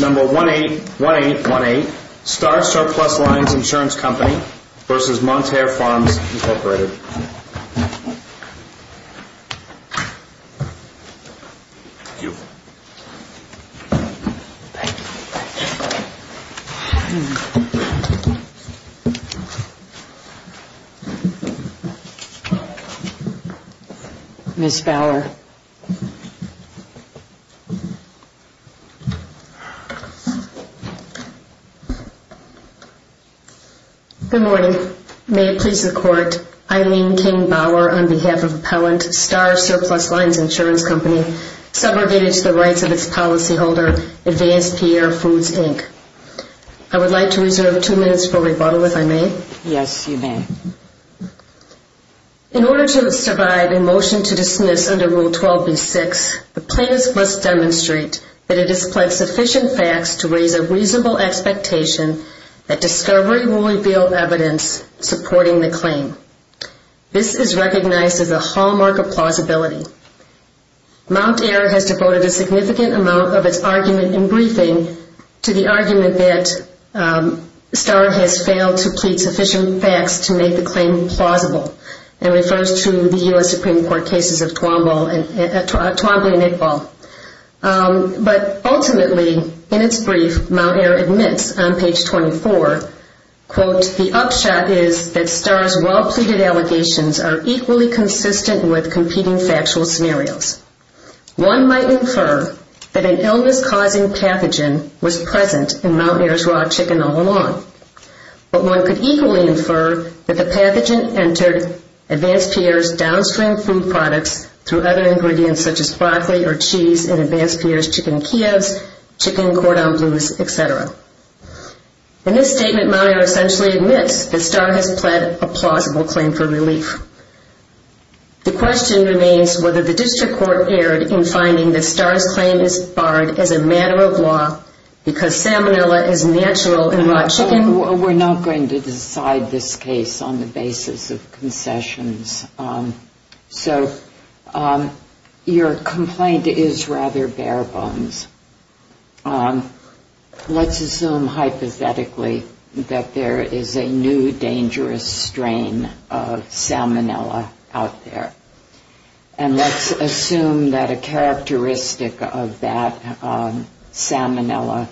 Number 181818, Starr Surplus Lines Insurance Co. v. Mountaire Farms Inc. Thank you. Thank you. Ms. Fowler. Good morning. May it please the Court, Eileen King Bower, on behalf of Appellant Starr Surplus Lines Insurance Co., subrogated to the rights of its policyholder, Advanced PR Foods Inc. I would like to reserve two minutes for rebuttal, if I may. Yes, you may. In order to survive a motion to dismiss under Rule 12b-6, the plaintiff must demonstrate that it has pled sufficient facts to raise a reasonable expectation that discovery will reveal evidence supporting the claim. This is recognized as a hallmark of plausibility. Mountaire has devoted a significant amount of its argument in briefing to the argument that Starr has failed to plead sufficient facts to make the claim plausible and refers to the U.S. Supreme Court cases of Twombly and Iqbal. But ultimately, in its brief, Mountaire admits on page 24, quote, the upshot is that Starr's well-pleaded allegations are equally consistent with competing factual scenarios. One might infer that an illness-causing pathogen was present in Mountaire's raw chicken all along, but one could equally infer that the pathogen entered Advanced PR's downstream food products through other ingredients such as broccoli or cheese in Advanced PR's chicken kievs, chicken cordon bleus, etc. In this statement, Mountaire essentially admits that Starr has pled a plausible claim for relief. The question remains whether the district court erred in finding that Starr's claim is barred as a matter of law because salmonella is natural in raw chicken. We're not going to decide this case on the basis of concessions. So your complaint is rather bare bones. Let's assume hypothetically that there is a new dangerous strain of salmonella out there. And let's assume that a characteristic of that salmonella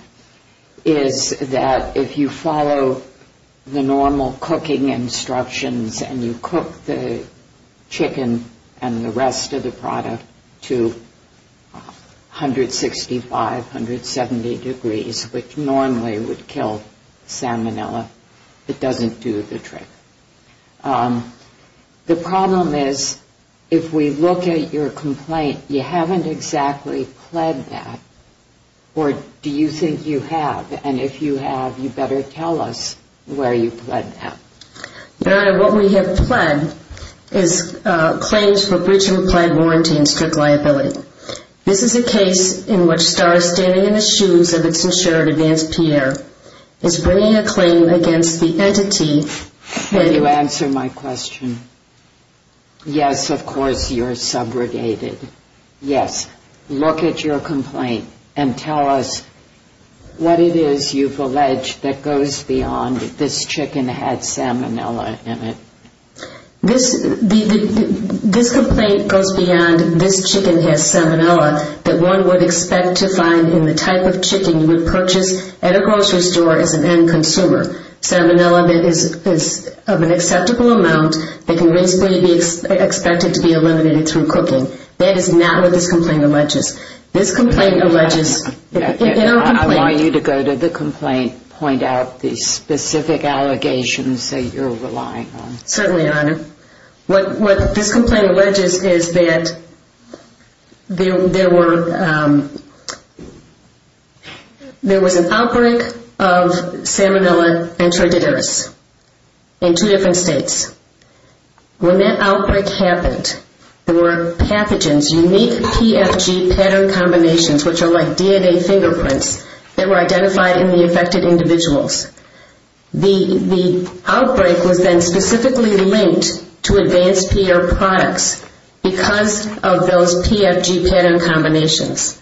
is that if you follow the normal cooking instructions and you cook the chicken and the rest of the product to 165 degrees, which normally would kill salmonella, it doesn't do the trick. The problem is if we look at your complaint, you haven't exactly pled that, or do you think you have? And if you have, you better tell us where you pled that. Your Honor, what we have pled is claims for breach of a pled warranty and strict liability. This is a case in which Starr is standing in the shoes of its insured advanced peer, is bringing a claim against the entity that you... Will you answer my question? Yes, of course, you're subrogated. Yes. Look at your complaint and tell us what it is you've alleged that goes beyond this chicken had salmonella in it. This complaint goes beyond this chicken has salmonella that one would expect to find in the type of chicken you would purchase at a grocery store as an end consumer. Salmonella is of an acceptable amount that can basically be expected to be eliminated through cooking. That is not what this complaint alleges. I want you to go to the complaint, point out the specific allegations that you're relying on. What this complaint alleges is that there were... There was an outbreak of salmonella intraduterous in two different states. When that outbreak happened, there were pathogens, unique PFG pattern combinations, which are like DNA fingerprints that were identified in the affected individuals. The outbreak was then specifically linked to Advanced Pierre products because of those PFG pattern combinations.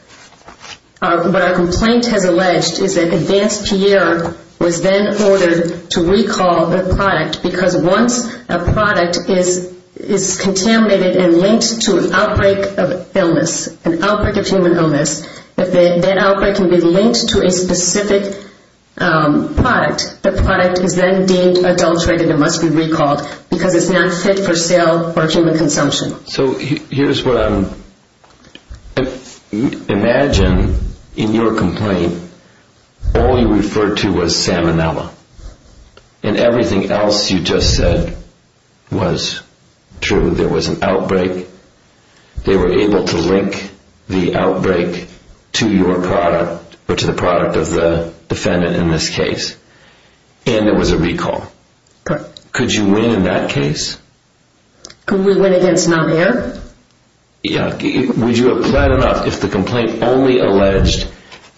What our complaint has alleged is that Advanced Pierre was then ordered to recall the product because once a product is contaminated and linked to an outbreak of illness, an outbreak of human illness, that outbreak can be linked to a specific product that product is then deemed adulterated and must be recalled because it's not fit for sale or human consumption. So here's what I'm... Imagine in your complaint all you referred to was salmonella and everything else you just said was true. There was an outbreak. They were able to link the outbreak to your product or to the product of the defendant in this case. And there was a recall. Could you win in that case? Could we win against non-air? Would you have planned enough if the complaint only alleged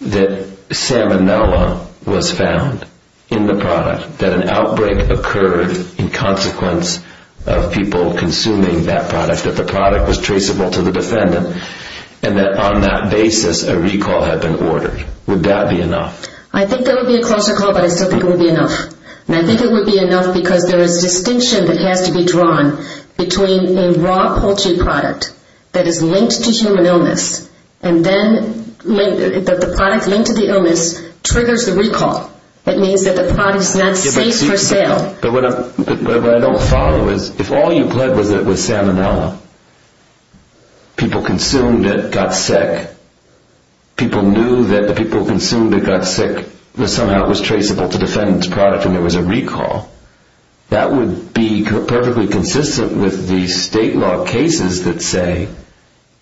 that salmonella was found in the product, that an outbreak occurred in consequence of people consuming that product, that the product was traceable to the defendant, and that on that basis a recall had been ordered? Would that be enough? I think there would be a closer call, but I still think it would be enough. And I think it would be enough because there is distinction that has to be drawn between a raw poultry product that is linked to human illness and then the product linked to the illness triggers the recall. It means that the product is not safe for sale. But what I don't follow is if all you pled was that it was salmonella, people consumed it, got sick, people knew that the people who consumed it got sick, that somehow it was traceable to the defendant's product and there was a recall, that would be perfectly consistent with the state law cases that say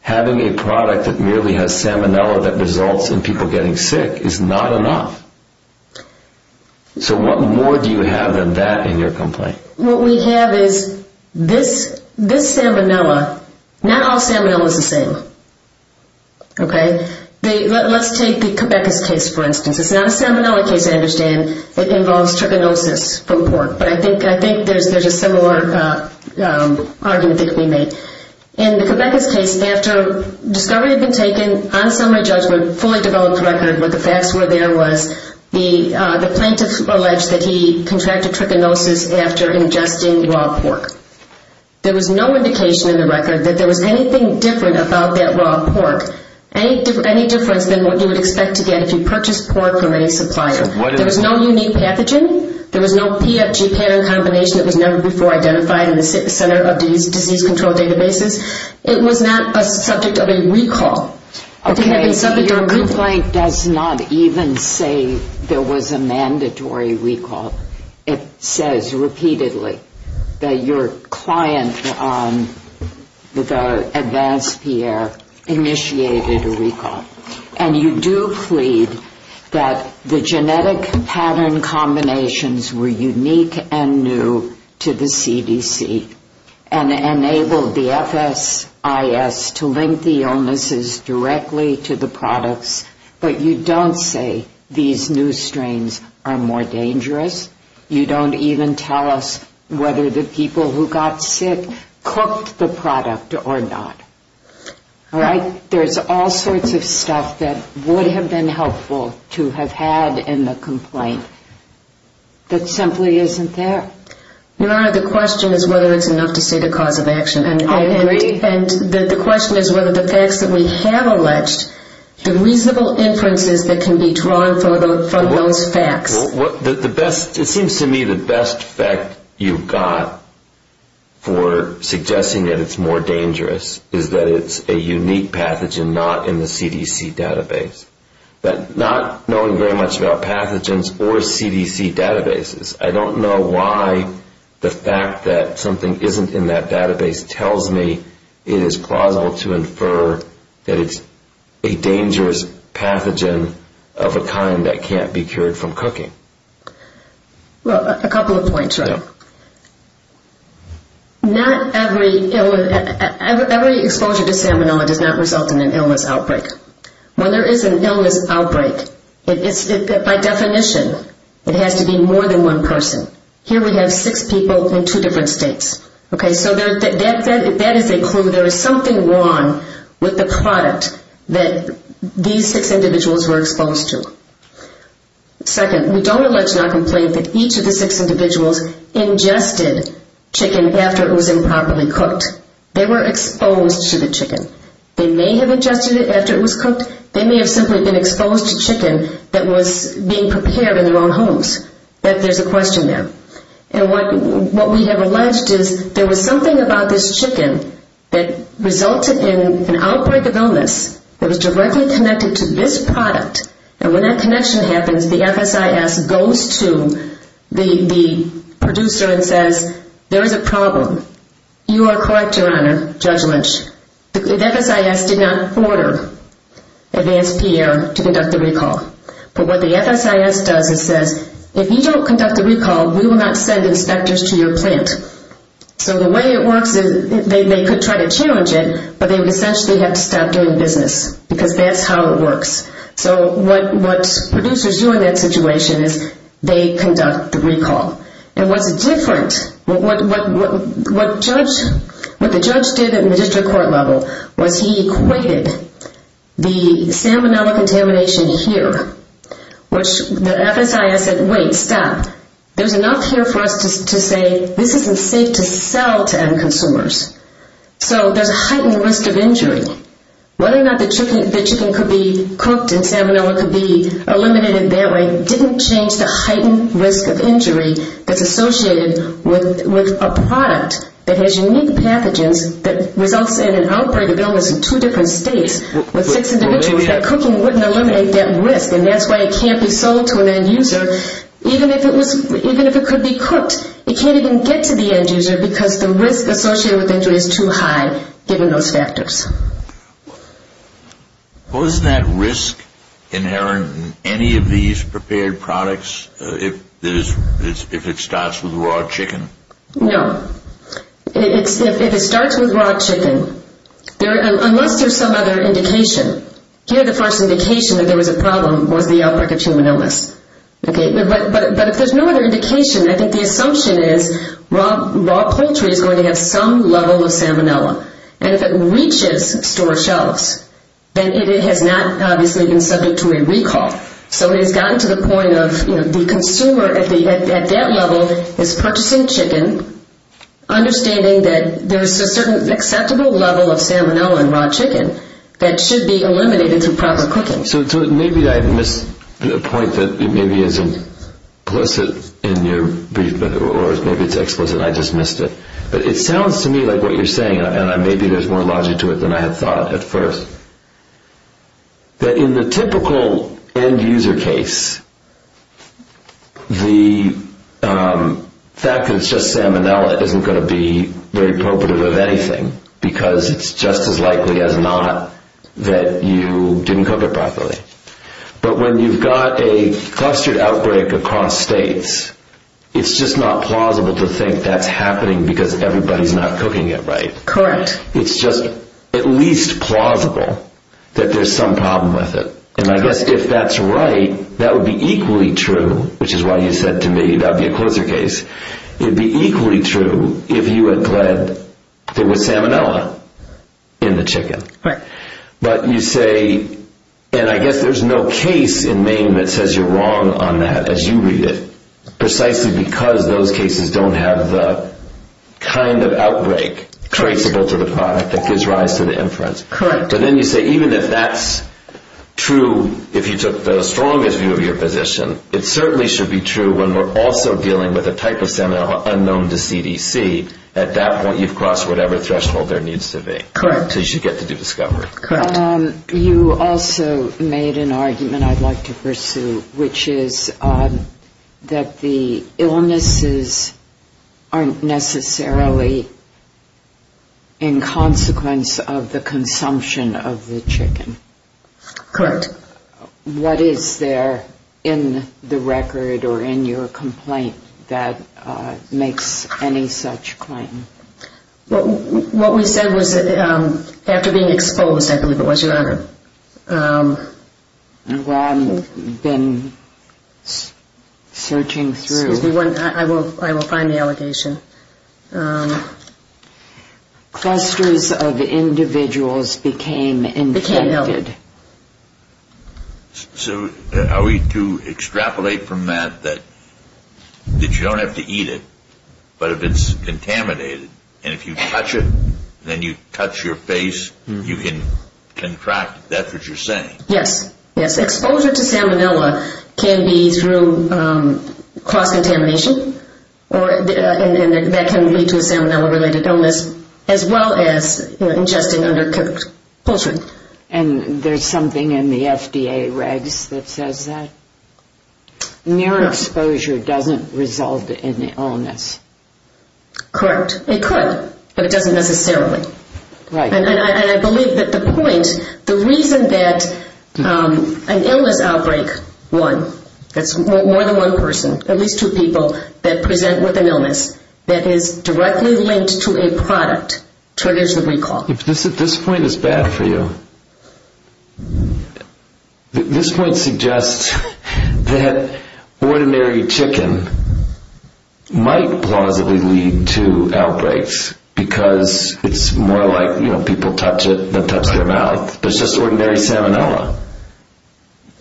having a product that merely has salmonella that results in people getting sick is not enough. So what more do you have than that in your complaint? What we have is this salmonella, not all salmonella is the same. Let's take the Quebecus case, for instance. It's not a salmonella case, I understand. It involves trichinosis from pork. But I think there's a similar argument that can be made. In the Quebecus case, after discovery had been taken, on summary judgment, fully developed record, what the facts were there was the plaintiff alleged that he contracted trichinosis after ingesting raw pork. There was no indication in the record that there was anything different about that raw pork, any difference than what you would expect to get if you purchased pork from any supplier. There was no unique pathogen, there was no PFG pattern combination that was never before identified in the center of disease control databases. It was not a subject of a recall. Your complaint does not even say there was a mandatory recall. It says repeatedly that your client, the advanced PR, initiated a recall. And you do plead that the genetic pattern combinations were unique and new to the CDC and enabled the FSIS to link the illnesses directly to the products. But you don't say these new strains are more dangerous. You don't even tell us whether the people who got sick cooked the product or not. There's all sorts of stuff that would have been helpful to have had in the complaint that simply isn't there. The question is whether it's enough to say the cause of action. And the question is whether the facts that we have alleged, the reasonable inferences that can be drawn from those facts. It seems to me the best fact you've got for suggesting that it's more dangerous is that it's a unique pathogen not in the CDC database. But not knowing very much about pathogens or CDC databases, I don't know why the fact that something isn't in that database tells me it is plausible to infer that it's a dangerous pathogen of a kind that can't be cured from cooking. A couple of points. Every exposure to salmonella does not result in an illness outbreak. When there is an illness outbreak, by definition, it has to be more than one person. Here we have six people in two different states. So that is a clue. There is something wrong with the product that these six individuals were exposed to. Second, we don't allege or complain that each of the six individuals ingested chicken after it was improperly cooked. They were exposed to the chicken. They may have ingested it after it was cooked. They may have simply been exposed to chicken that was being prepared in their own homes. There's a question there. And what we have alleged is there was something about this chicken that resulted in an outbreak of illness that was directly connected to this product. And when that connection happens, the FSIS goes to the producer and says, there is a problem. You are correct, Your Honor, Judge Lynch. The FSIS did not order Advanced Pierre to conduct the recall. But what the FSIS does is says, if you don't conduct the recall, we will not send inspectors to your plant. So the way it works is they could try to challenge it, but they would essentially have to stop doing business because that's how it works. So what producers do in that situation is they conduct the recall. And what's different, what the judge did in the district court level was he equated the salmonella contamination here, which the FSIS said, wait, stop. There's enough here for us to say this isn't safe to sell to end consumers. So there's a heightened risk of injury. Whether or not the chicken could be cooked and salmonella could be eliminated that way, didn't change the heightened risk of injury that's associated with a product that has unique pathogens that results in an outbreak of illness in two different states with six individuals. That cooking wouldn't eliminate that risk. And that's why it can't be sold to an end user, even if it could be cooked. It can't even get to the end user because the risk associated with injury is too high given those factors. Wasn't that risk inherent in any of these prepared products if it starts with raw chicken? No. If it starts with raw chicken, unless there's some other indication, here the first indication that there was a problem was the outbreak of salmonella. But if there's no other indication, I think the assumption is raw poultry is going to have some level of salmonella. And if it reaches store shelves, then it has not obviously been subject to a recall. So it has gotten to the point of the consumer at that level is purchasing chicken, understanding that there's a certain acceptable level of salmonella in raw chicken that should be eliminated through proper cooking. So maybe I missed a point that maybe isn't explicit in your brief, or maybe it's explicit and I just missed it. But it sounds to me like what you're saying, and maybe there's more logic to it than I had thought at first, that in the typical end user case, the fact that it's just salmonella isn't going to be very appropriate of anything, because it's just as likely as not that you didn't cook it properly. But when you've got a clustered outbreak across states, it's just not plausible to think that's happening because everybody's not cooking it right. It's just at least plausible that there's some problem with it. And I guess if that's right, that would be equally true, which is why you said to me that would be a closer case. It would be equally true if you had said there was salmonella in the chicken. But you say, and I guess there's no case in Maine that says you're wrong on that as you read it, precisely because those cases don't have the kind of outbreak traceable to the product that gives rise to the inference. But then you say even if that's true, if you took the strongest view of your position, it certainly should be true when we're also dealing with a type of salmonella unknown to CDC. At that point, you've crossed whatever threshold there needs to be. So you should get to do discovery. You also made an argument I'd like to pursue, which is that the illnesses aren't necessarily in consequence of the consumption of the chicken. Correct. What is there in the record or in your complaint that makes any such claim? What we said was that after being exposed, I believe it was, Your Honor, I will find the allegation. Clusters of individuals became infected. So are we to extrapolate from that that you don't have to eat it, but if it's contaminated and if you touch it, then you touch your face, you can contract it. That's what you're saying. Yes. Yes. So exposure to salmonella can be through cross-contamination and that can lead to a salmonella-related illness, as well as ingesting undercooked poultry. And there's something in the FDA regs that says that? No. So exposure doesn't result in the illness. Correct. It could, but it doesn't necessarily. And I believe that the point, the reason that an illness outbreak, one, that's more than one person, at least two people that present with an illness, that is directly linked to a product triggers the recall. This point is bad for you. This point suggests that ordinary chicken might plausibly lead to outbreaks because it's more like people touch it than touch their mouth. It's just ordinary salmonella.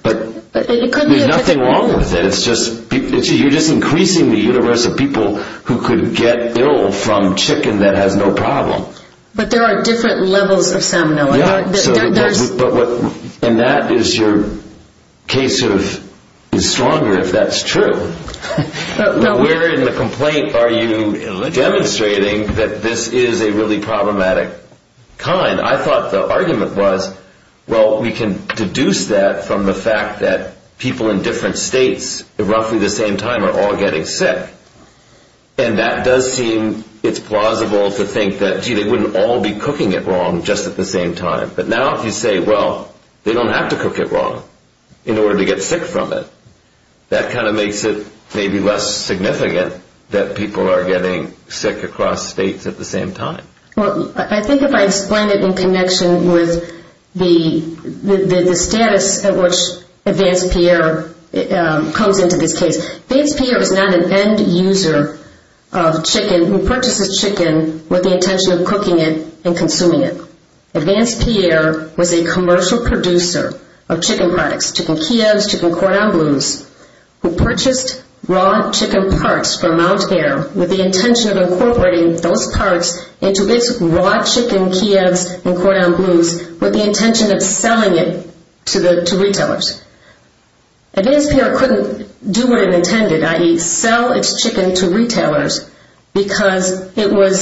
But there's nothing wrong with it. You're just increasing the universe of people who could get ill from chicken that has no problem. But there are different levels of salmonella. And that is your case is stronger if that's true. Where in the complaint are you demonstrating that this is a really problematic kind? I thought the argument was, well, we can deduce that from the fact that people in different states at roughly the same time are all getting sick. And that does seem, it's plausible to think that, gee, they wouldn't all be cooking it wrong just at the same time. But now if you say, well, they don't have to cook it wrong in order to get sick from it, that kind of makes it maybe less significant that people are getting sick across states at the same time. Well, I think if I explain it in connection with the status at which Advance Pierre comes into this case, Advance Pierre is not an end user of chicken who purchases chicken with the intention of cooking it and consuming it. Advance Pierre was a commercial producer of chicken products, chicken Kievs, chicken Cordon Bleus, who purchased raw chicken parts from Mount Air with the intention of incorporating those parts into its raw chicken Kievs and Cordon Bleus with the intention of selling it to retailers. Advance Pierre couldn't do what it intended, i.e. sell its chicken to retailers because it was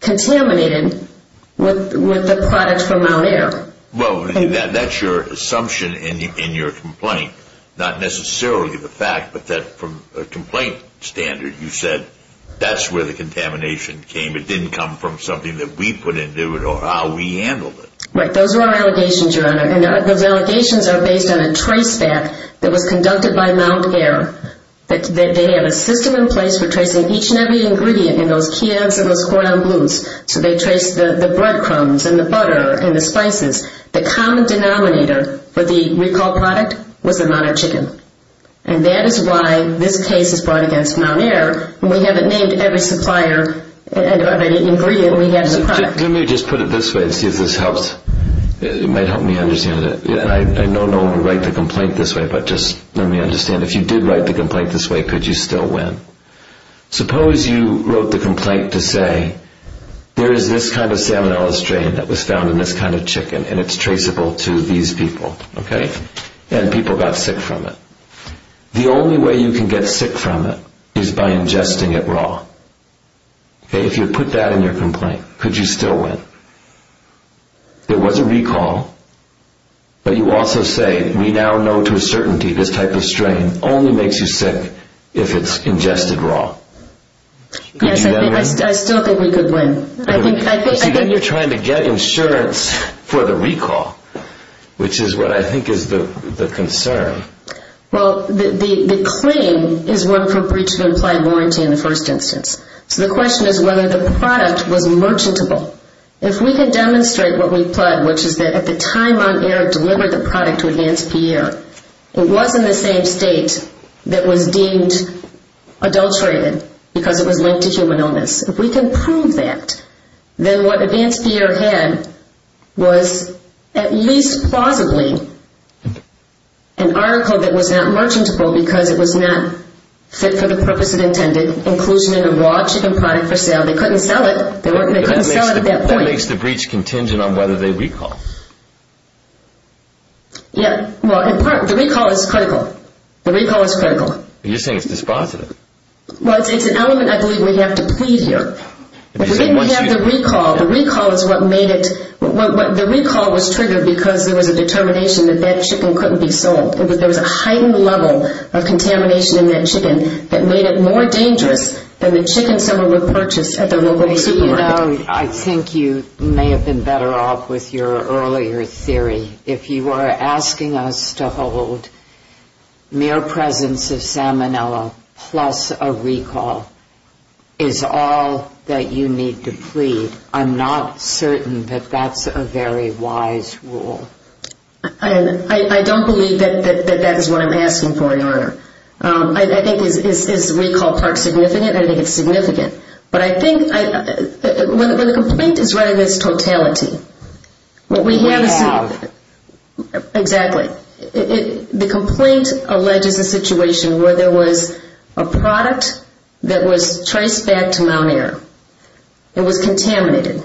contaminated with the product from Mount Air. Well, that's your assumption in your complaint, not necessarily the fact, but from a complaint standard, you said that's where the contamination came. It didn't come from something that we put in. It was how we handled it. Right. Those are our allegations, Your Honor, and those allegations are based on a trace back that was conducted by Mount Air. They have a system in place for tracing each and every ingredient in those Kievs and those Cordon Bleus. So they trace the breadcrumbs and the butter and the spices. The common denominator for the recall product was the amount of chicken, and that is why this case is brought against Mount Air when we haven't named every supplier of any ingredient we have in the product. Let me just put it this way to see if this helps. It might help me understand it. I know no one would write the complaint this way, but just let me understand. If you did write the complaint this way, could you still win? Suppose you wrote the complaint to say there is this kind of salmonella strain that was found in this kind of chicken, and it's traceable to these people, and people got sick from it. The only way you can get sick from it is by ingesting it raw. If you put that in your complaint, could you still win? There was a recall, but you also say, we now know to a certainty this type of strain only makes you sick if it's ingested raw. Yes, I still think we could win. You're trying to get insurance for the recall, which is what I think is the concern. Well, the claim is one for breach of implied warranty in the first instance. So the question is whether the product was merchantable. If we can demonstrate what we've pledged, which is that at the time on air delivered the product to Advance Pierre, it was in the same state that was deemed adulterated because it was linked to human illness. If we can prove that, then what Advance Pierre had was at least plausibly an article that was not merchantable because it was not fit for the purpose it intended, inclusion in a raw chicken product for sale. They couldn't sell it. They couldn't sell it at that point. What makes the breach contingent on whether they recall? The recall is critical. You're saying it's dispositive. Well, it's an element I believe we have to plead here. We didn't have the recall. The recall was triggered because there was a determination that that chicken couldn't be sold. There was a heightened level of contamination in that chicken that made it more dangerous than the chicken someone would purchase at the local supermarket. You know, I think you may have been better off with your earlier theory. If you are asking us to hold mere presence of salmonella plus a recall is all that you need to plead, I'm not certain that that's a very wise rule. I don't believe that that is what I'm asking for, Your Honor. I think is recall part significant? I think it's significant. But I think the complaint is rather this totality. Exactly. The complaint alleges a situation where there was a product that was traced back to Mount Air. It was contaminated.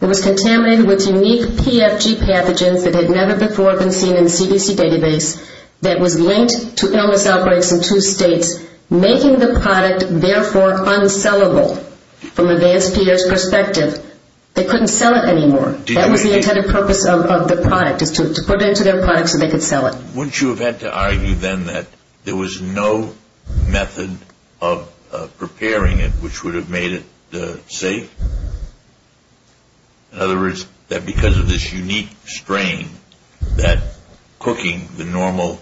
It was contaminated with unique PFG pathogens that had never before been seen in the CDC database that was linked to illness outbreaks in two states, making the product therefore unsellable from advanced peers' perspective. They couldn't sell it anymore. That was the intended purpose of the product is to put it into their products so they could sell it. Wouldn't you have had to argue then that there was no method of preparing it which would have made it safe? In other words, that because of this unique strain, that cooking the normal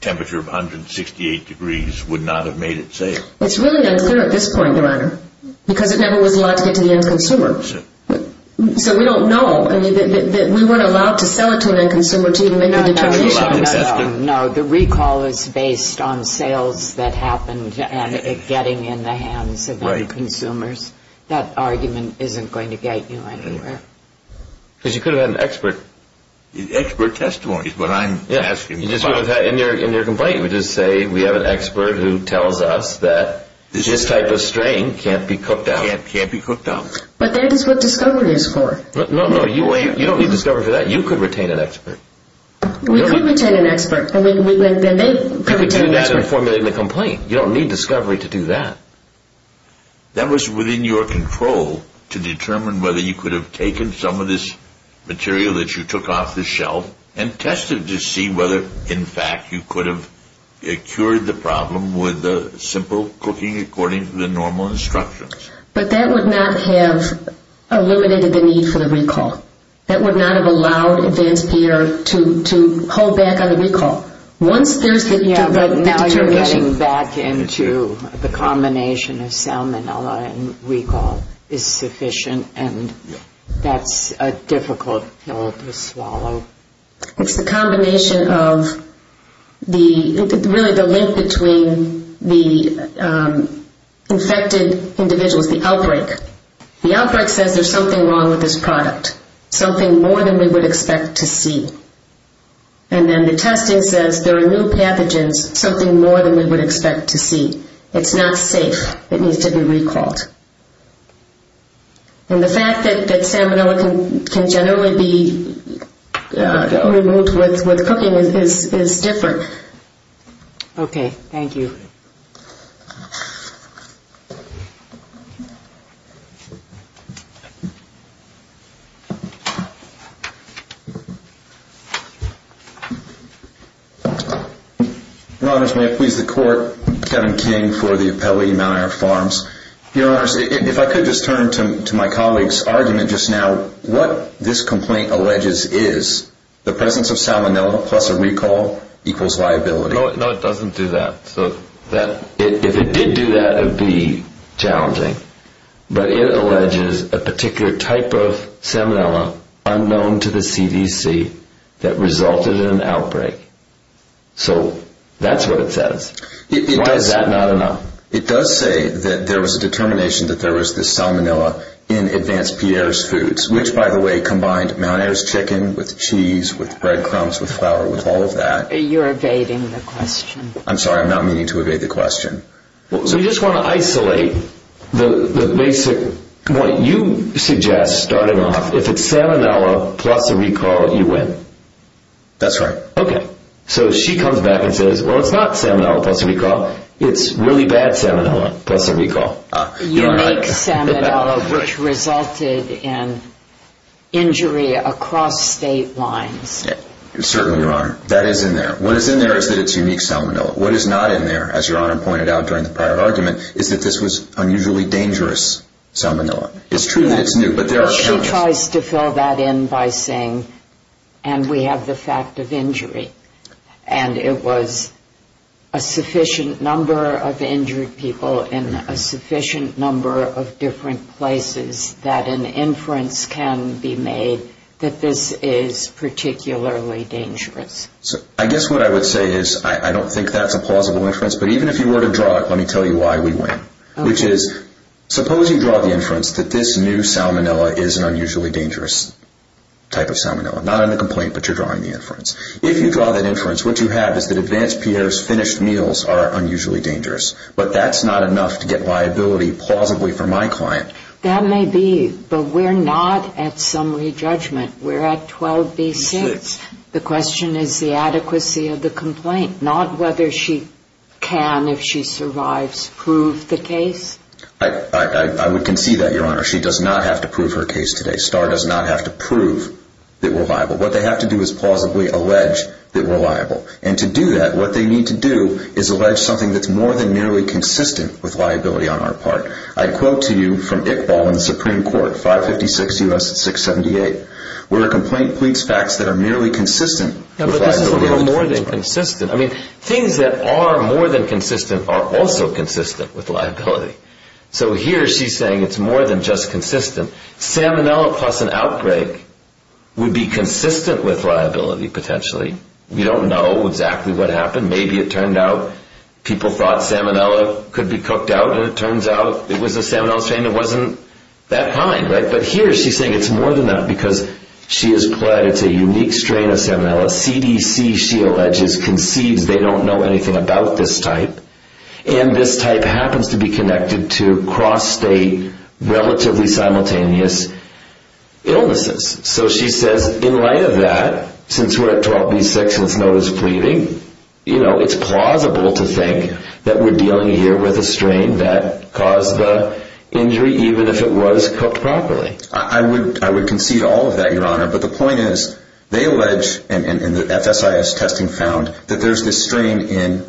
temperature of 168 degrees would not have made it safe? It's really unclear at this point, Your Honor, because it never was allowed to get to the end consumer. So we don't know. We weren't allowed to sell it to an end consumer. No, the recall is based on sales that happened and it getting in the hands of end consumers. That argument isn't going to get you anywhere. Because you could have had an expert. Expert testimony is what I'm asking. In your complaint, you would just say we have an expert who tells us that this type of strain can't be cooked out. Can't be cooked out. But that is what discovery is for. No, you don't need discovery for that. You could retain an expert. We could retain an expert. You don't need discovery to do that. That was within your control to determine whether you could have taken some of this material that you took off the shelf and tested to see whether, in fact, you could have cured the problem with simple cooking according to the normal instructions. But that would not have eliminated the need for the recall. That would not have allowed advanced PR to hold back on the recall. Now you're getting back into the combination of salmonella and recall is sufficient and that's a difficult pill to swallow. It's the combination of the, really the link between the infected individual and the infected individual is the outbreak. The outbreak says there's something wrong with this product, something more than we would expect to see. And then the testing says there are new pathogens, something more than we would expect to see. It's not safe. It needs to be recalled. And the fact that salmonella can generally be removed with cooking is different. Okay. Thank you. Your Honors, may I please the Court? Kevin King for the Appellee, Mount Iron Farms. Your Honors, if I could just turn to my colleague's argument just now, what this complaint alleges is the presence of salmonella plus a recall equals liability. No, it doesn't do that. If it did do that, it would be challenging. But it alleges a particular type of salmonella unknown to the CDC that resulted in an outbreak. So that's what it says. Why is that not enough? It does say that there was a determination that there was this salmonella in Advanced Pierre's Foods, which, by the way, combined Mount Air's chicken with cheese, with breadcrumbs, with flour, with all of that. You're evading the question. I'm sorry, I'm not meaning to evade the question. So you just want to isolate the basic, what you suggest, starting off, if it's salmonella plus a recall, you win. That's right. Okay. So she comes back and says, well, it's not salmonella plus a recall. It's really bad salmonella plus a recall. You make salmonella which resulted in injury across state lines. Certainly, Your Honor. That is in there. What is in there is that it's unique salmonella. What is not in there, as Your Honor pointed out during the prior argument, is that this was unusually dangerous salmonella. It's true that it's new. But she tries to fill that in by saying, and we have the fact of injury, and it was a sufficient number of injured people in a sufficient number of different places that an inference can be made that this is particularly dangerous. I guess what I would say is, I don't think that's a plausible inference, but even if you were to draw it, let me tell you why we win. Which is, suppose you draw the inference that this new salmonella is an unusually dangerous type of salmonella. Not in a complaint, but you're drawing the inference. If you draw that inference, what you have is that Advanced Pierre's finished meals are unusually dangerous. But that's not enough to get liability plausibly for my client. That may be, but we're not at summary judgment. We're at 12B6. The question is the adequacy of the complaint, not whether she can, if she survives, prove the case. I would concede that, Your Honor. She does not have to prove her case today. STAR does not have to prove that we're liable. What they have to do is plausibly allege that we're liable. And to do that, what they need to do is allege something that's more than nearly consistent with liability on our part. I quote to you from Iqbal in the Supreme Court, 556 U.S. 678, where a complaint pleads facts that are merely consistent with liability on the plaintiff's part. And that, plus an outbreak, would be consistent with liability, potentially. We don't know exactly what happened. Maybe it turned out people thought salmonella could be cooked out, and it turns out it was a salmonella strain that wasn't that kind. But here she's saying it's more than that because she has pled it's a unique strain of salmonella. CDC, she alleges, concedes they don't know anything about this type. And this type happens to be connected to cross-state, relatively simultaneous illnesses. So she says, in light of that, since we're at 12B6 and it's notice of pleading, it's plausible to think that we're dealing here with a strain that caused the injury, even if it was cooked properly. I would concede all of that, Your Honor. But the point is, they allege, and the FSIS testing found, that there's this strain in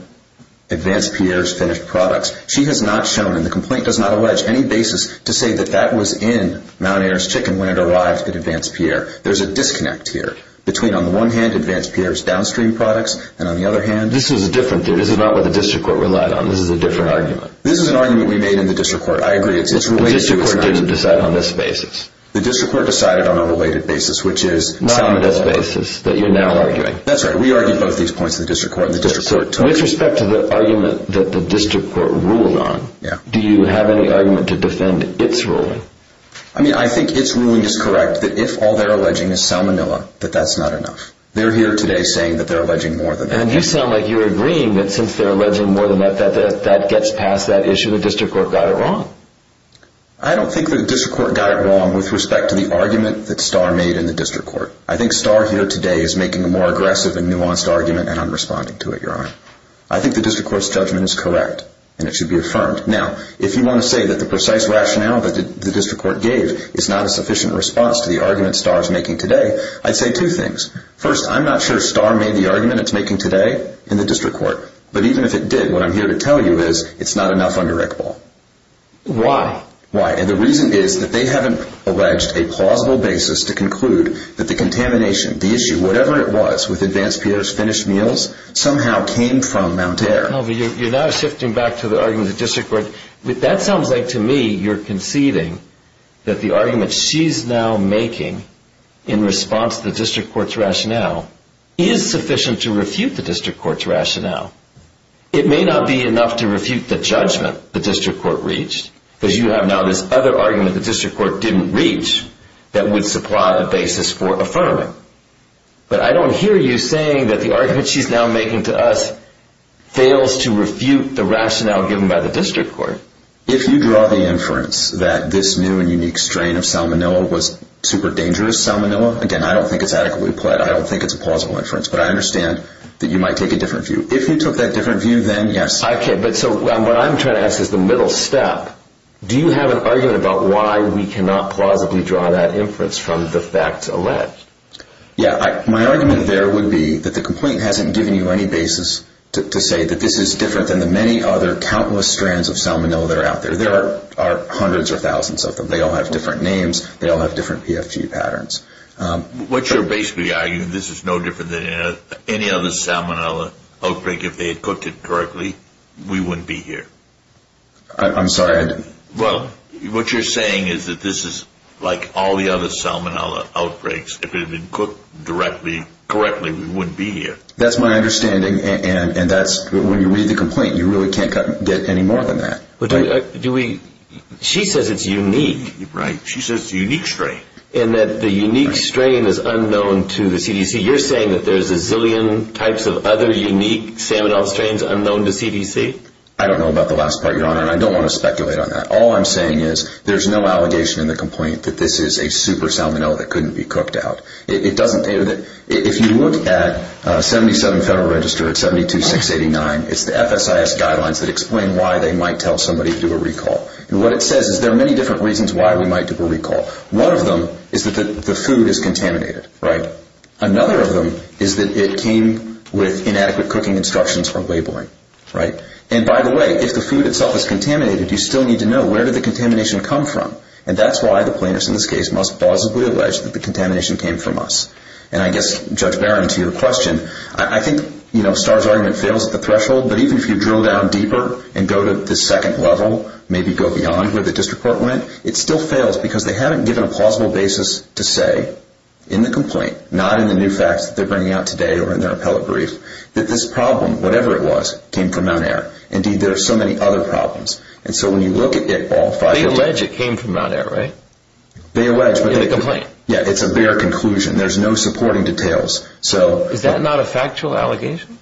Advanced Pierre's finished products. She has not shown, and the complaint does not allege, any basis to say that that was in Mount Air's Chicken when it arrived at Advanced Pierre. There's a disconnect here between, on the one hand, Advanced Pierre's downstream products, and on the other hand... This is a different theory. This is not what the district court relied on. This is a different argument. This is an argument we made in the district court. I agree. The district court decided on a related basis, which is Salmonella. That's right. We argued both these points in the district court. With respect to the argument that the district court ruled on, do you have any argument to defend its ruling? I think its ruling is correct, that if all they're alleging is Salmonella, that that's not enough. They're here today saying that they're alleging more than that. And you sound like you're agreeing that since they're alleging more than that, that gets past that issue. The district court got it wrong. I don't think the district court got it wrong with respect to the argument that Starr made in the district court. I think Starr here today is making a more aggressive and nuanced argument, and I'm responding to it, Your Honor. I think the district court's judgment is correct, and it should be affirmed. Now, if you want to say that the precise rationale that the district court gave is not a sufficient response to the argument Starr is making today, I'd say two things. First, I'm not sure Starr made the argument it's making today in the district court. But even if it did, what I'm here to tell you is it's not enough under Rick Ball. Why? And the reason is that they haven't alleged a plausible basis to conclude that the contamination, the issue, whatever it was with Advanced Pierre's finished meals, somehow came from Mount Air. You're now shifting back to the argument of the district court. That sounds like to me you're conceding that the argument she's now making in response to the district court's rationale It may not be enough to refute the judgment the district court reached, because you have now this other argument the district court didn't reach that would supply the basis for affirming. But I don't hear you saying that the argument she's now making to us fails to refute the rationale given by the district court. If you draw the inference that this new and unique strain of salmonella was super dangerous salmonella, again, I don't think it's adequately pled. I don't think it's a plausible inference. But I understand that you might take a different view. If you took that different view, then yes. Okay, but so what I'm trying to ask is the middle step. Do you have an argument about why we cannot plausibly draw that inference from the facts alleged? Yeah, my argument there would be that the complaint hasn't given you any basis to say that this is different than the many other countless strands of salmonella that are out there. There are hundreds or thousands of them. They all have different names. They all have different PFG patterns. What you're basically arguing is that this is no different than any other salmonella outbreak. If they had cooked it correctly, we wouldn't be here. I'm sorry? Well, what you're saying is that this is like all the other salmonella outbreaks. If it had been cooked correctly, we wouldn't be here. That's my understanding, and when you read the complaint, you really can't get any more than that. She says it's unique. Right. She says it's a unique strain. And that the unique strain is unknown to the CDC. You're saying that there's a zillion types of other unique salmonella strains unknown to CDC? I don't know about the last part, Your Honor, and I don't want to speculate on that. All I'm saying is there's no allegation in the complaint that this is a super salmonella that couldn't be cooked out. If you look at 77 Federal Register, it's 72-689. It's the FSIS guidelines that explain why they might tell somebody to do a recall. And what it says is there are many different reasons why we might do a recall. One of them is that the food is contaminated. Another of them is that it came with inadequate cooking instructions or labeling. And by the way, if the food itself is contaminated, you still need to know, where did the contamination come from? And that's why the plaintiffs in this case must plausibly allege that the contamination came from us. And I guess, Judge Barron, to your question, I think Starr's argument fails at the threshold, but even if you drill down deeper and go to the second level, maybe go beyond where the district court went, it still fails because they haven't given a plausible basis to say in the complaint, not in the new facts that they're bringing out today or in their appellate brief, that this problem, whatever it was, came from Mount Air. Indeed, there are so many other problems. And so when you look at it, all five of them. They allege it came from Mount Air, right? They allege. In the complaint. Yeah, it's a bare conclusion. There's no supporting details. Is that not a factual allegation?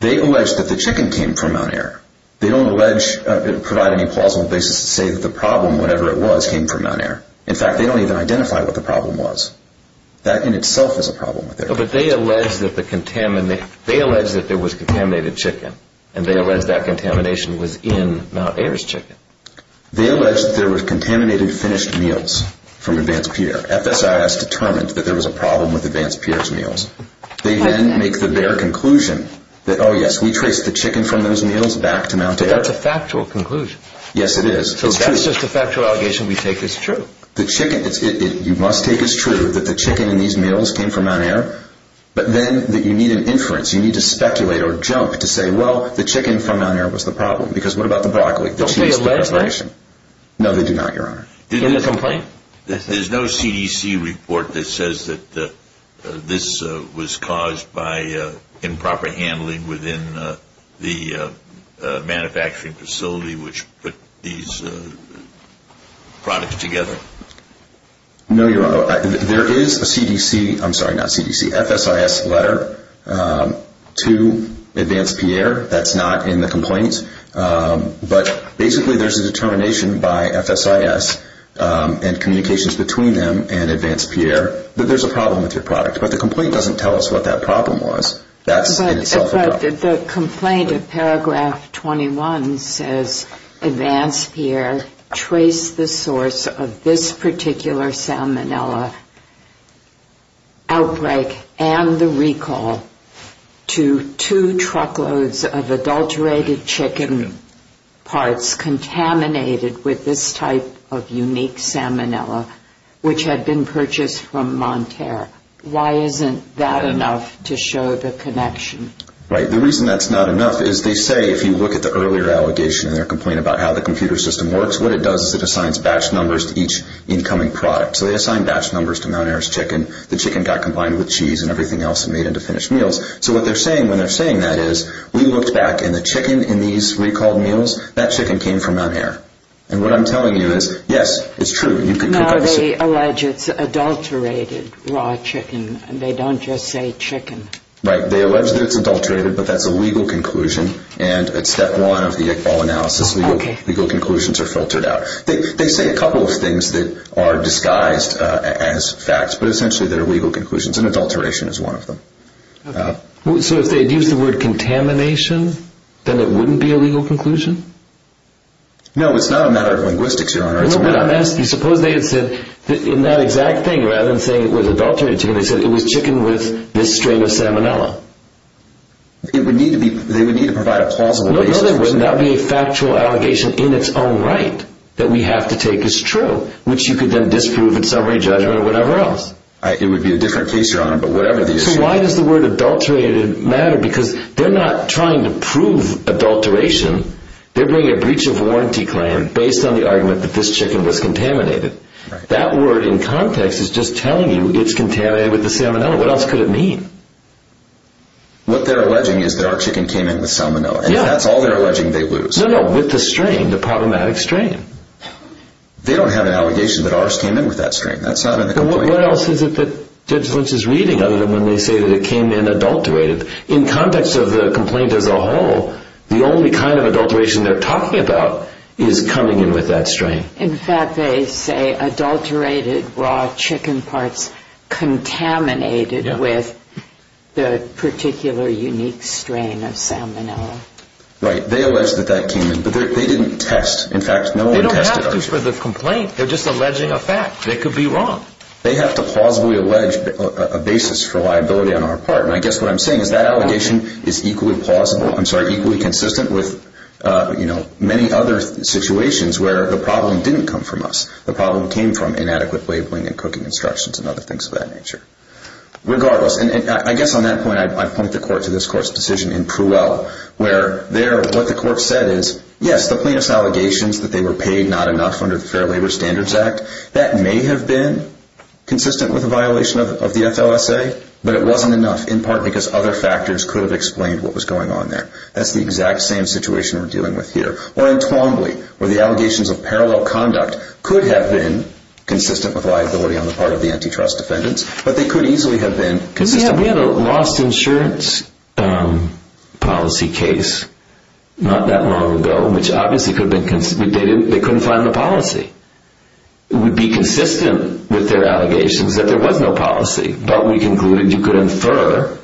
They allege that the chicken came from Mount Air. They don't provide any plausible basis to say that the problem, whatever it was, came from Mount Air. In fact, they don't even identify what the problem was. That in itself is a problem. But they allege that there was contaminated chicken. And they allege that contamination was in Mount Air's chicken. They allege that there was contaminated finished meals from Advanced Pierre. FSIS determined that there was a problem with Advanced Pierre's meals. They then make the bare conclusion that, oh, yes, we traced the chicken from those meals back to Mount Air. That's a factual conclusion. Yes, it is. So that's just a factual allegation we take as true. The chicken, you must take as true that the chicken in these meals came from Mount Air. But then you need an inference. You need to speculate or jump to say, well, the chicken from Mount Air was the problem. Because what about the broccoli? Don't they allege that? No, they do not, Your Honor. Do they complain? There's no CDC report that says that this was caused by improper handling within the manufacturing facility which put these products together. No, Your Honor. There is a CDC, I'm sorry, not CDC, FSIS letter to Advanced Pierre that's not in the complaint. But basically there's a determination by FSIS and communications between them and Advanced Pierre that there's a problem with your product. But the complaint doesn't tell us what that problem was. That's in itself a problem. The complaint in paragraph 21 says Advanced Pierre traced the source of this particular salmonella outbreak and the recall to two truckloads of adulterated chicken parts contaminated with this type of unique salmonella which had been purchased from Mount Air. Why isn't that enough to show the connection? Right. The reason that's not enough is they say if you look at the earlier allegation in their complaint about how the computer system works, what it does is it assigns batch numbers to each incoming product. So they assign batch numbers to Mount Air's chicken. The chicken got combined with cheese and everything else and made into finished meals. So what they're saying when they're saying that is we looked back and the chicken in these recalled meals, that chicken came from Mount Air. And what I'm telling you is, yes, it's true. Now they allege it's adulterated raw chicken. They don't just say chicken. Right. They allege that it's adulterated, but that's a legal conclusion. And it's step one of the Iqbal analysis. Legal conclusions are filtered out. They say a couple of things that are disguised as facts, but essentially they're legal conclusions. And adulteration is one of them. So if they'd used the word contamination, then it wouldn't be a legal conclusion? No, it's not a matter of linguistics, Your Honor. No, but I'm asking, suppose they had said, in that exact thing, rather than saying it was adulterated chicken, they said it was chicken with this strain of salmonella. They would need to provide a plausible basis for saying that. No, there would not be a factual allegation in its own right that we have to take as true, which you could then disprove in summary judgment or whatever else. It would be a different case, Your Honor, but whatever the issue. So why does the word adulterated matter? Because they're not trying to prove adulteration. They're bringing a breach of warranty claim based on the argument that this chicken was contaminated. That word in context is just telling you it's contaminated with the salmonella. What else could it mean? What they're alleging is that our chicken came in with salmonella, and if that's all they're alleging, they lose. No, no, with the strain, the problematic strain. They don't have an allegation that ours came in with that strain. That's not in the complaint. What else is it that Judge Lynch is reading other than when they say that it came in adulterated? In context of the complaint as a whole, the only kind of adulteration they're talking about is coming in with that strain. In fact, they say adulterated raw chicken parts contaminated with the particular unique strain of salmonella. Right. They allege that that came in, but they didn't test. In fact, no one tested us. They don't have to for the complaint. They're just alleging a fact. They could be wrong. They have to plausibly allege a basis for liability on our part. I guess what I'm saying is that allegation is equally consistent with many other situations where the problem didn't come from us. The problem came from inadequate labeling and cooking instructions and other things of that nature. Regardless, I guess on that point, I'd point the court to this court's decision in Pruel where there what the court said is, yes, the plaintiff's allegations that they were paid not enough under the Fair Labor Standards Act, that may have been consistent with a violation of the FLSA, but it wasn't enough, in part because other factors could have explained what was going on there. That's the exact same situation we're dealing with here. Or in Twombly where the allegations of parallel conduct could have been consistent with liability on the part of the antitrust defendants, but they could easily have been consistent with liability. We had a lost insurance policy case not that long ago, which obviously they couldn't find the policy. It would be consistent with their allegations that there was no policy, but we concluded you could infer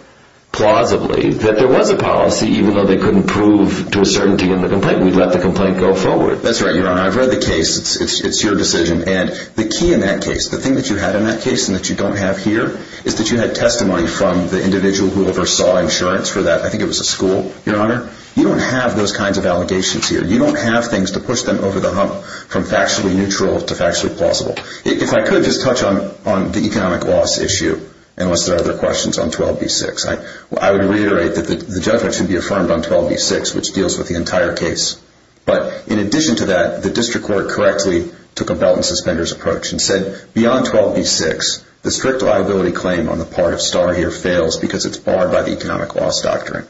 plausibly that there was a policy, even though they couldn't prove to a certainty in the complaint. We'd let the complaint go forward. That's right, Your Honor. I've read the case. It's your decision. And the key in that case, the thing that you had in that case and that you don't have here, is that you had testimony from the individual who oversaw insurance for that. I think it was a school, Your Honor. You don't have those kinds of allegations here. You don't have things to push them over the hump from factually neutral to factually plausible. If I could just touch on the economic loss issue, unless there are other questions, on 12b-6. I would reiterate that the judgment should be affirmed on 12b-6, which deals with the entire case. But in addition to that, the district court correctly took a belt and suspenders approach and said beyond 12b-6, the strict liability claim on the part of Starr here fails because it's barred by the economic loss doctrine.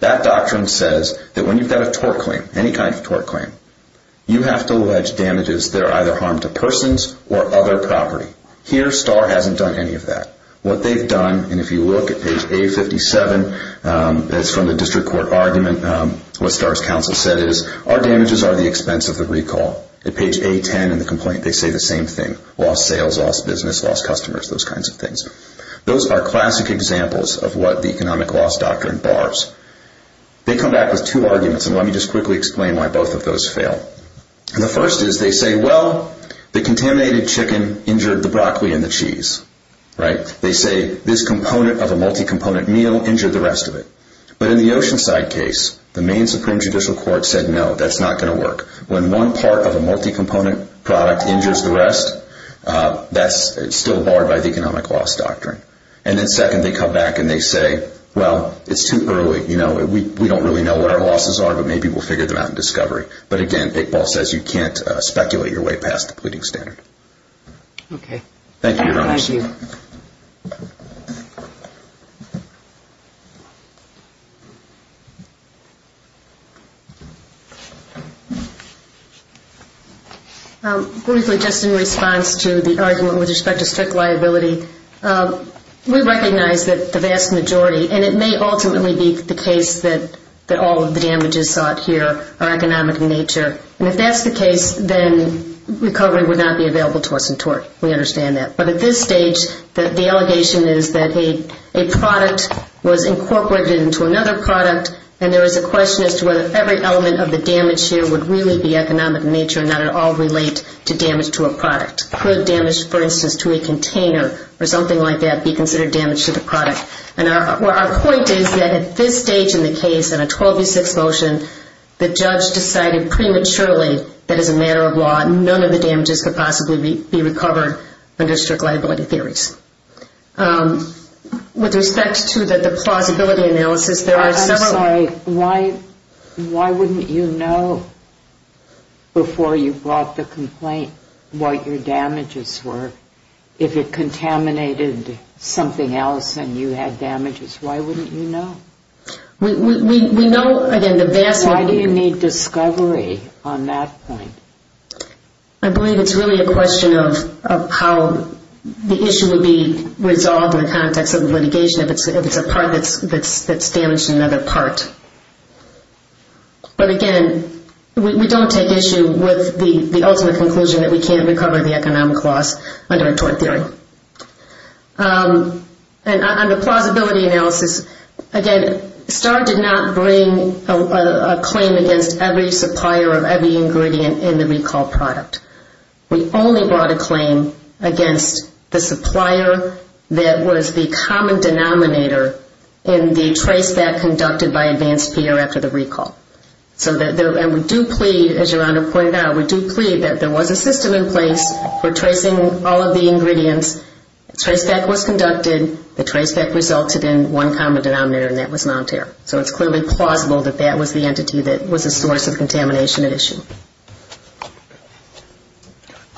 That doctrine says that when you've got a tort claim, any kind of tort claim, you have to allege damages that are either harm to persons or other property. Here, Starr hasn't done any of that. What they've done, and if you look at page A-57, that's from the district court argument, what Starr's counsel said is, our damages are the expense of the recall. At page A-10 in the complaint, they say the same thing. Those are classic examples of what the economic loss doctrine bars. They come back with two arguments, and let me just quickly explain why both of those fail. The first is they say, well, the contaminated chicken injured the broccoli and the cheese. They say this component of a multi-component meal injured the rest of it. But in the Oceanside case, the Maine Supreme Judicial Court said, no, that's not going to work. When one part of a multi-component product injures the rest, that's still barred by the economic loss doctrine. And then second, they come back and they say, well, it's too early. We don't really know what our losses are, but maybe we'll figure them out in discovery. But again, Big Ball says you can't speculate your way past the pleading standard. Okay. Thank you, Your Honors. Thank you. Briefly, just in response to the argument with respect to strict liability, we recognize that the vast majority, and it may ultimately be the case that all of the damages sought here are economic in nature. And if that's the case, then recovery would not be available to us in tort. We understand that. But at this stage, the allegation is that a product was incorporated into another product, and there is a question as to whether every element of the damage here would really be economic in nature and not at all relate to damage to a product. Could damage, for instance, to a container or something like that be considered damage to the product? And our point is that at this stage in the case, in a 12-6 motion, the judge decided prematurely that as a matter of law, none of the damages could possibly be recovered under strict liability theories. With respect to the plausibility analysis, there are several... I'm sorry. Why wouldn't you know before you brought the complaint what your damages were? If it contaminated something else and you had damages, why wouldn't you know? We know, again, the vast... Why do you need discovery on that point? I believe it's really a question of how the issue would be resolved in the context of litigation if it's a part that's damaged in another part. But, again, we don't take issue with the ultimate conclusion that we can't recover the economic loss under a tort theory. And on the plausibility analysis, again, we brought a claim against every supplier of every ingredient in the recall product. We only brought a claim against the supplier that was the common denominator in the trace back conducted by advanced peer after the recall. And we do plead, as Your Honor pointed out, we do plead that there was a system in place for tracing all of the ingredients. The trace back was conducted. The trace back resulted in one common denominator, and that was non-tear. So it's clearly plausible that that was the entity that was a source of contamination at issue.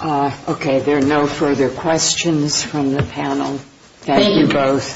Okay, there are no further questions from the panel. Thank you both.